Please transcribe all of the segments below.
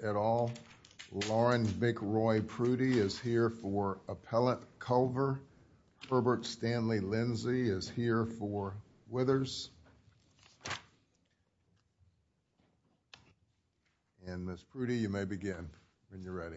at all. Lauren McRoy Prudy is here for Appellate Culver. Herbert Stanley Lindsey is here for Withers. And Ms. Prudy, you may begin when you're ready.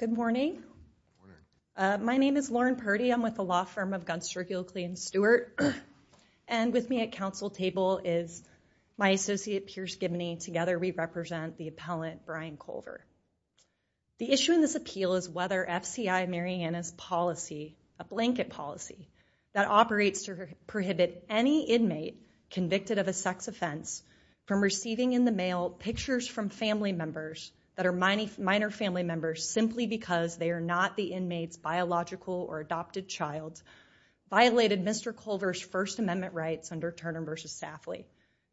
Good morning. My name is Lauren Prudy. I'm with the law firm of Guns Territory and Stewart. And with me at council table is my associate Pierce Gibney. Together we represent the appellant Brian Culver. The issue in this appeal is whether FCI Marianna's policy, a blanket policy that operates to prohibit any inmate convicted of a sex offense from receiving in the mail pictures from family members that are minor family members simply because they are not the inmates biological or adopted child violated Mr. Culver's First Amendment rights under Turner v. Safley.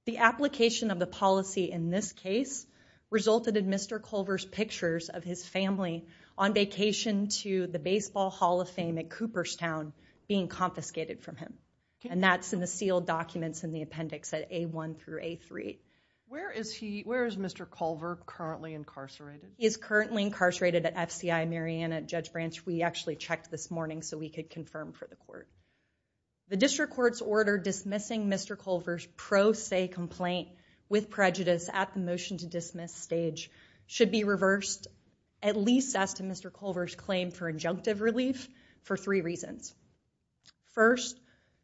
The application of the policy in this case resulted in Mr. Culver's pictures of his family on vacation to the Baseball Hall of Fame at Cooperstown being confiscated from him. And that's in the sealed documents in the appendix at A1 through A3. Where is he? Where is Mr. Culver currently incarcerated? He is currently incarcerated at FCI Marianna at Judge Branch. We actually checked this morning so we could confirm for the court. The district court's order dismissing Mr. Culver's pro se complaint with prejudice at the motion to dismiss stage should be reversed at least as to Mr. Culver's claim for injunctive relief for three reasons. First,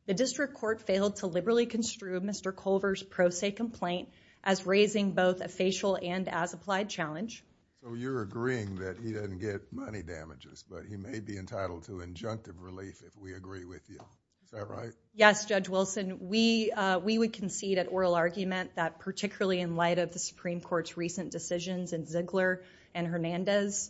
the district court failed to liberally construe Mr. Culver's pro se complaint as raising both a facial and as applied challenge. So you're agreeing that he didn't get money damages, but he may be entitled to injunctive relief if we agree with you. Is that right? Yes, Judge Wilson. We we would concede at oral argument that particularly in light of the Supreme Court's recent decisions and Ziegler and Hernandez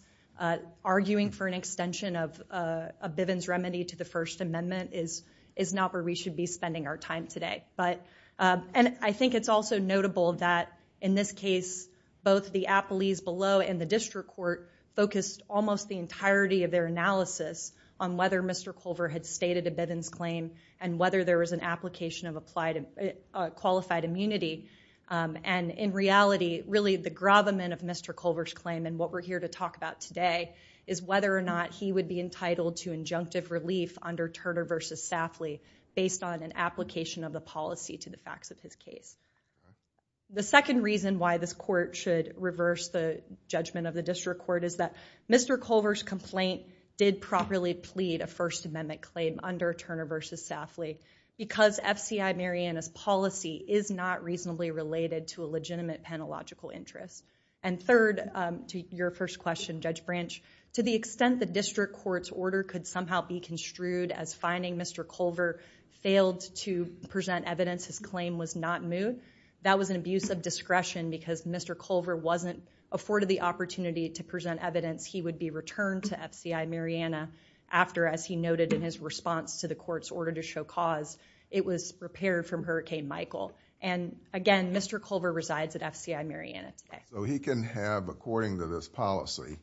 arguing for an extension of a Bivens remedy to the First Amendment is is not where we should be spending our time today. But and I think it's also notable that in this case, both the appellees below and the district court focused almost the entirety of their analysis on whether Mr. Culver had stated a Bivens claim and whether there was an application of applied qualified immunity. And in reality, really, the gravamen of Mr. Culver's claim and what we're here to talk about today is whether or not he would be entitled to injunctive relief under Turner versus Safley based on an application of the policy to the facts of his case. The second reason why this court should reverse the judgment of the district court is that Mr. Culver's complaint did properly plead a First Amendment claim under Turner versus Safley because FCI Marianna's policy is not reasonably related to a legitimate penalogical interest. And third to your first question, Judge Branch, to the extent the district court's order could somehow be construed as finding Mr. Culver failed to present evidence. His claim was not moot. That was an abuse of discretion because Mr. Culver wasn't afforded the opportunity to present evidence. He would be returned to FCI Mariana after, as he noted in his response to the court's order to show cause, it was repaired from Hurricane Michael. And again, Mr. Culver resides at FCI Mariana today. So he can have, according to this policy,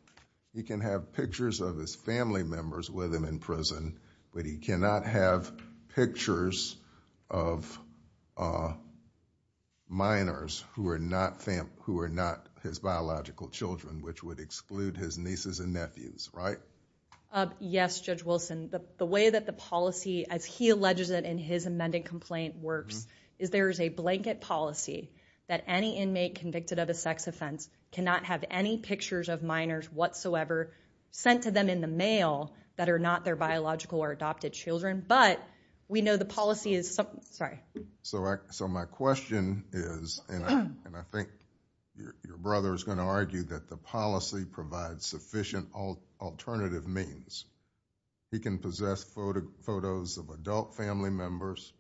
he can have pictures of his family members with him in prison, but he cannot have pictures of minors who are not his biological children, which would exclude his nieces and nephews. Right? Yes, Judge Wilson. The way that the policy, as he alleges it in his amended complaint, works is there is a blanket policy that any inmate convicted of a sex offense cannot have any pictures of minors whatsoever sent to them in the mail that are not their biological or adopted children. But we know the policy is something, sorry. So my question is, and I think your brother is going to argue that the policy provides sufficient alternative means. He can possess photos of adult family members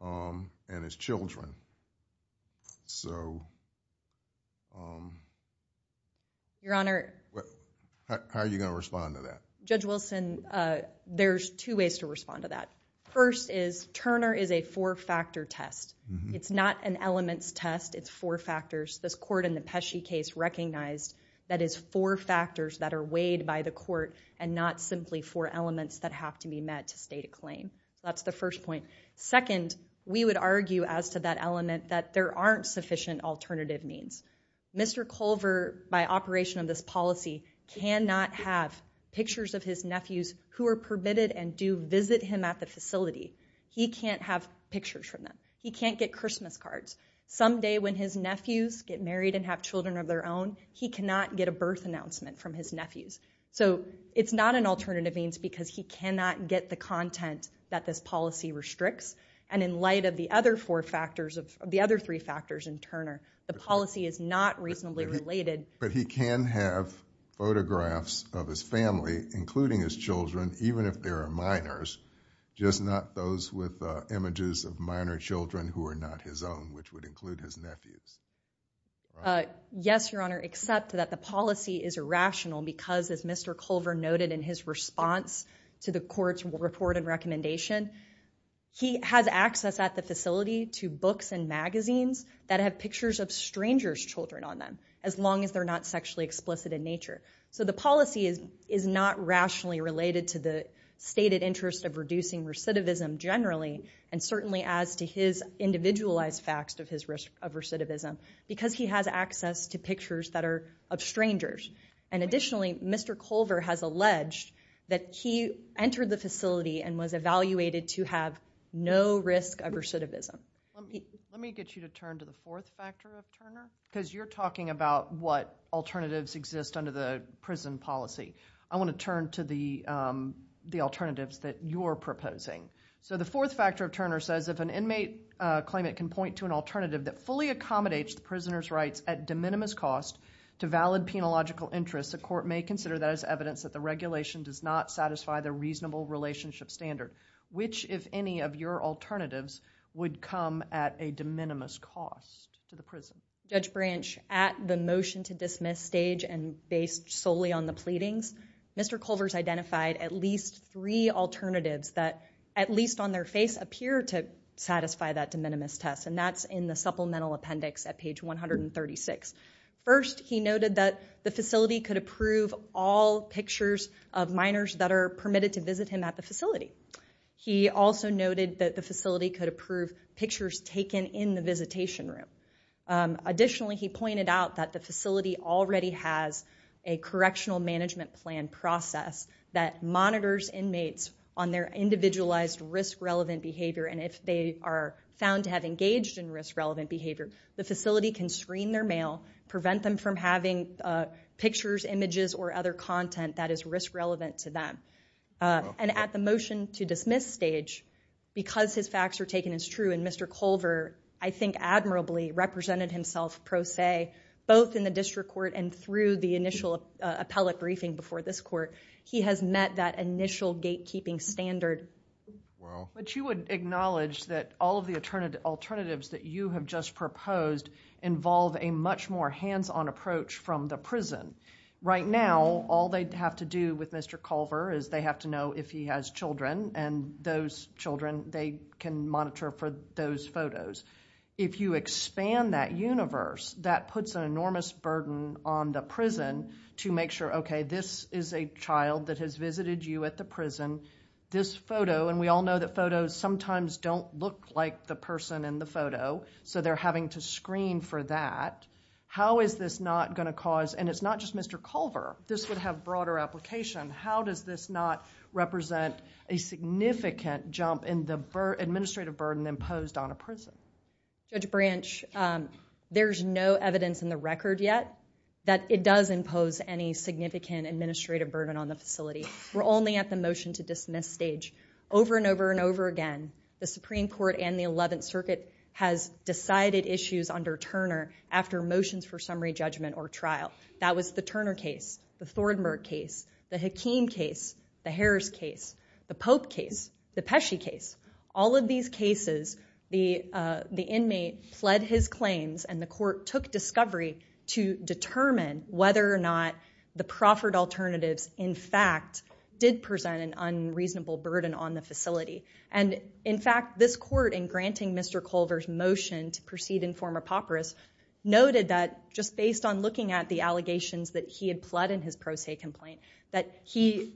and his children. So. Your Honor. How are you going to respond to that? Judge Wilson, there's two ways to respond to that. First is Turner is a four factor test. It's not an elements test. It's four factors. This court in the Pesce case recognized that is four factors that are weighed by the court and not simply four elements that have to be met to state a claim. That's the first point. Second, we would argue as to that element that there aren't sufficient alternative means. Mr. Culver, by operation of this policy, cannot have pictures of his nephews who are permitted and do visit him at the facility. He can't have pictures from them. He can't get Christmas cards. Someday when his nephews get married and have children of their own, he cannot get a birth announcement from his nephews. So it's not an alternative means because he cannot get the content that this policy restricts. And in light of the other four factors of the other three factors in Turner, the policy is not reasonably related. But he can have photographs of his family, including his children, even if there are minors, just not those with images of minor children who are not his own, which would include his nephews. Yes, Your Honor, except that the policy is irrational because as Mr. Culver noted in his response to the court's report and recommendation, he has access at the facility to books and magazines that have pictures of strangers' children on them, as long as they're not sexually explicit in nature. So the policy is not rationally related to the stated interest of reducing recidivism generally, and certainly as to his individualized facts of his risk of recidivism, because he has access to pictures that are of strangers. And additionally, Mr. Culver has alleged that he entered the facility and was evaluated to have no risk of recidivism. Let me get you to turn to the fourth factor of Turner, because you're talking about what alternatives exist under the prison policy. I want to turn to the alternatives that you're proposing. So the fourth factor of Turner says, if an inmate claimant can point to an alternative that fully accommodates the prisoner's rights at de minimis cost to valid penological interests, the court may consider that as evidence that the regulation does not satisfy the reasonable relationship standard. Which, if any, of your alternatives would come at a de minimis cost to the prison? Judge Branch, at the motion to dismiss stage and based solely on the pleadings, Mr. Culver's identified at least three alternatives that, at least on their face, appear to satisfy that de minimis test. And that's in the supplemental appendix at page 136. First, he noted that the facility could approve all pictures of minors that are permitted to visit him at the facility. He also noted that the facility could approve pictures taken in the visitation room. Additionally, he pointed out that the facility already has a correctional management plan process that monitors inmates on their individualized risk-relevant behavior. And if they are found to have engaged in risk-relevant behavior, the facility can screen their mail, prevent them from having pictures, images, or other content that is risk-relevant to them. And at the motion to dismiss stage, because his facts were taken as true and Mr. Culver, I think, admirably represented himself pro se, both in the district court and through the initial appellate briefing before this court, he has met that initial gatekeeping standard. But you would acknowledge that all of the alternatives that you have just proposed involve a much more hands-on approach from the prison. Right now, all they have to do with Mr. Culver is they have to know if he has children, and those children, they can monitor for those photos. If you expand that universe, that puts an enormous burden on the prison to make sure, okay, this is a child that has visited you at the prison. This photo, and we all know that photos sometimes don't look like the person in the photo, so they're having to screen for that. How is this not going to cause, and it's not just Mr. Culver, this would have broader application. How does this not represent a significant jump in the administrative burden imposed on a prison? Judge Branch, there's no evidence in the record yet that it does impose any significant administrative burden on the facility. We're only at the motion to dismiss stage. Over and over and over again, the Supreme Court and the Eleventh Circuit has decided issues under Turner after motions for summary judgment or trial. That was the Turner case, the Thornburg case, the Hakeem case, the Harris case, the Pope case, the Pesci case. All of these cases, the inmate pled his claims and the court took discovery to determine whether or not the proffered alternatives, in fact, did present an unreasonable burden on the facility. In fact, this court, in granting Mr. Culver's motion to proceed in form of papyrus, noted that just based on looking at the allegations that he had pled in his pro se complaint, that he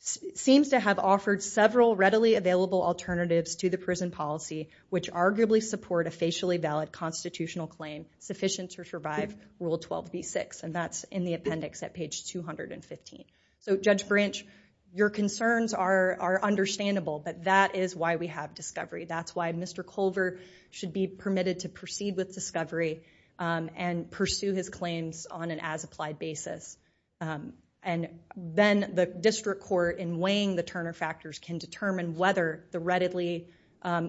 seems to have offered several readily available alternatives to the prison policy, which arguably support a facially valid constitutional claim sufficient to survive Rule 12b-6. And that's in the appendix at page 215. So, Judge Branch, your concerns are understandable, but that is why we have discovery. That's why Mr. Culver should be permitted to proceed with discovery and pursue his claims on an as-applied basis. And then the district court, in weighing the Turner factors, can determine whether the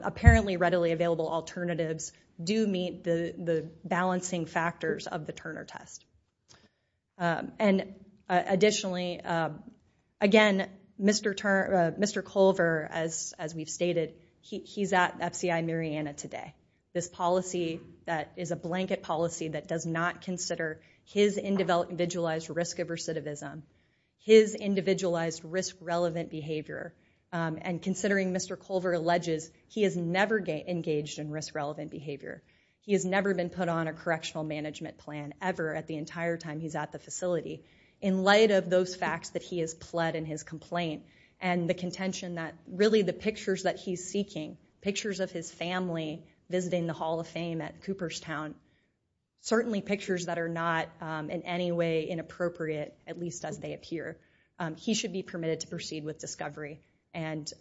apparently readily available alternatives do meet the balancing factors of the Turner test. And additionally, again, Mr. Culver, as we've stated, he's at FCI Mariana today. This policy that is a blanket policy that does not consider his individualized risk of recidivism, his individualized risk-relevant behavior, and considering Mr. Culver alleges he has never engaged in risk-relevant behavior. He has never been put on a correctional management plan, ever, at the entire time he's at the facility. In light of those facts that he has pled in his complaint and the contention that really the pictures that he's seeking, pictures of his family visiting the Hall of Fame at Cooperstown, certainly pictures that are not in any way inappropriate, at least as they appear. He should be permitted to proceed with discovery and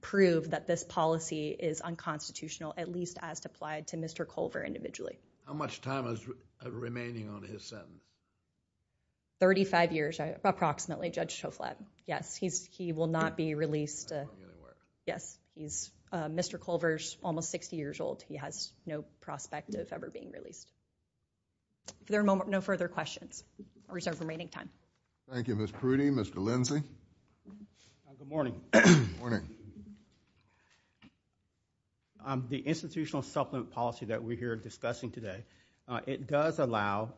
prove that this policy is unconstitutional, at least as applied to Mr. Culver individually. How much time is remaining on his sentence? Thirty-five years, approximately, Judge Toflab. Yes, he will not be released. Yes, Mr. Culver is almost 60 years old. He has no prospect of ever being released. If there are no further questions, we reserve remaining time. Thank you, Ms. Prudy. Mr. Lindsey? Good morning. Morning. The institutional supplement policy that we're here discussing today, it does allow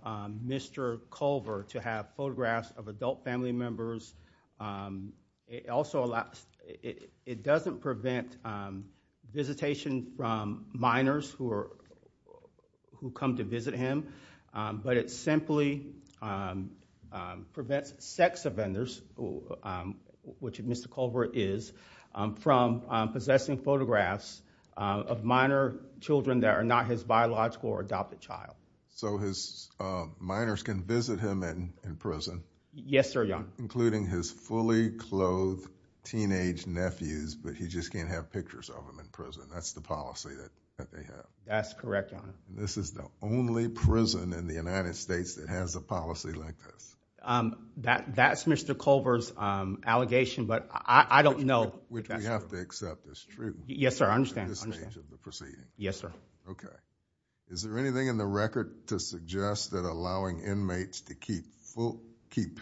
Mr. Culver to have photographs of adult family members. It doesn't prevent visitation from minors who come to visit him, but it simply prevents sex offenders, which Mr. Culver is, from possessing photographs of minor children that are not his biological or adopted child. So his minors can visit him in prison? He can visit his fully clothed teenage nephews, but he just can't have pictures of them in prison. That's the policy that they have. That's correct, Your Honor. This is the only prison in the United States that has a policy like this. That's Mr. Culver's allegation, but I don't know. Which we have to accept is true. Yes, sir. I understand. In this stage of the proceeding. Yes, sir. Okay. Is there anything in the record to suggest that allowing inmates to keep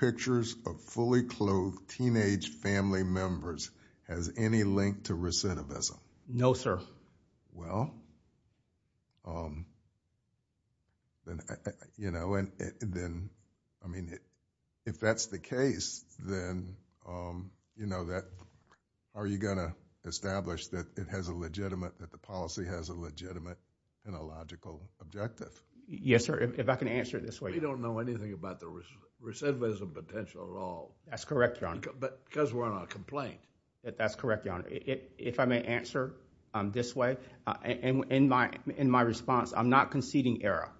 pictures of fully clothed teenage family members has any link to recidivism? No, sir. Well, then, you know, and then, I mean, if that's the case, then, you know, that are you going to establish that it has a legitimate, that the policy has a legitimate and a logical objective? Yes, sir. If I can answer it this way. We don't know anything about the recidivism potential at all. That's correct, Your Honor. Because we're on a complaint. That's correct, Your Honor. If I may answer this way, in my response, I'm not conceding error.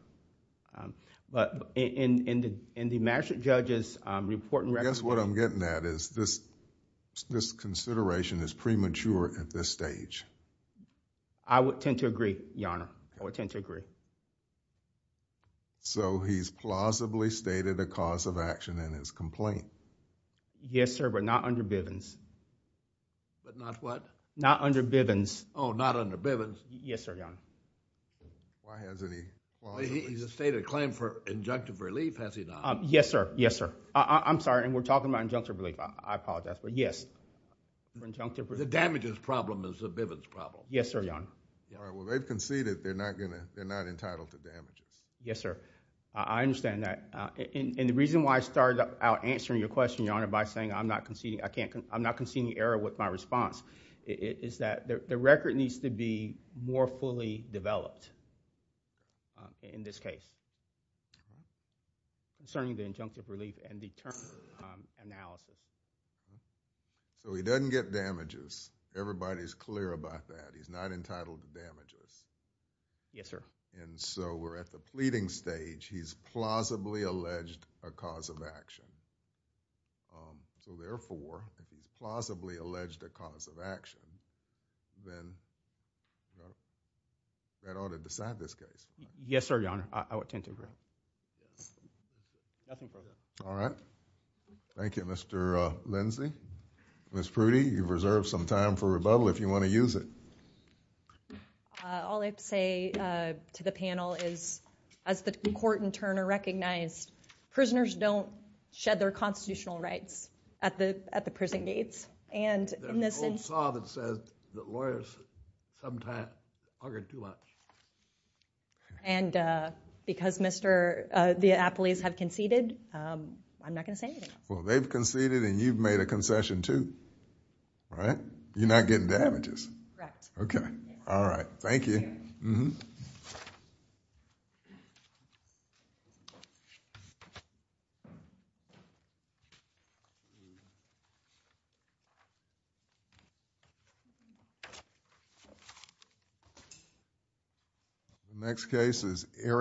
But in the magistrate judge's report and recommendation. I guess what I'm getting at is this consideration is premature at this stage. I would tend to agree, Your Honor. I would tend to agree. So, he's plausibly stated a cause of action in his complaint. Yes, sir, but not under Bivens. But not what? Not under Bivens. Oh, not under Bivens. Yes, sir, Your Honor. Why hasn't he? He's stated a claim for injunctive relief, has he not? Yes, sir. Yes, sir. I'm sorry, and we're talking about injunctive relief. I apologize, but yes, for injunctive relief. The damages problem is the Bivens problem. Yes, sir, Your Honor. All right, well, they've conceded they're not going to, they're not entitled to damages. Yes, sir. I understand that. And the reason why I started out answering your question, Your Honor, by saying I'm not conceding, I can't, I'm not conceding error with my response, is that the record needs to be more fully developed in this case, concerning the injunctive relief and the term analysis. So, he doesn't get damages. Everybody's clear about that. He's not entitled to damages. Yes, sir. And so, we're at the pleading stage. He's plausibly alleged a cause of action. So, therefore, if he's plausibly alleged a cause of action, then that ought to decide this case. Yes, sir, Your Honor. I would tend to agree. Nothing further. All right. Thank you, Mr. Lindsay. Ms. Prudy, you've reserved some time for rebuttal if you want to use it. All I have to say to the panel is, as the court in turn recognized, prisoners don't shed their constitutional rights at the prison gates. There's an old saw that says that lawyers sometimes argue too much. And because the appellees have conceded, I'm not going to say anything else. Well, they've conceded and you've made a concession too, right? You're not getting damages. Correct. All right. Thank you. The next case is Eric.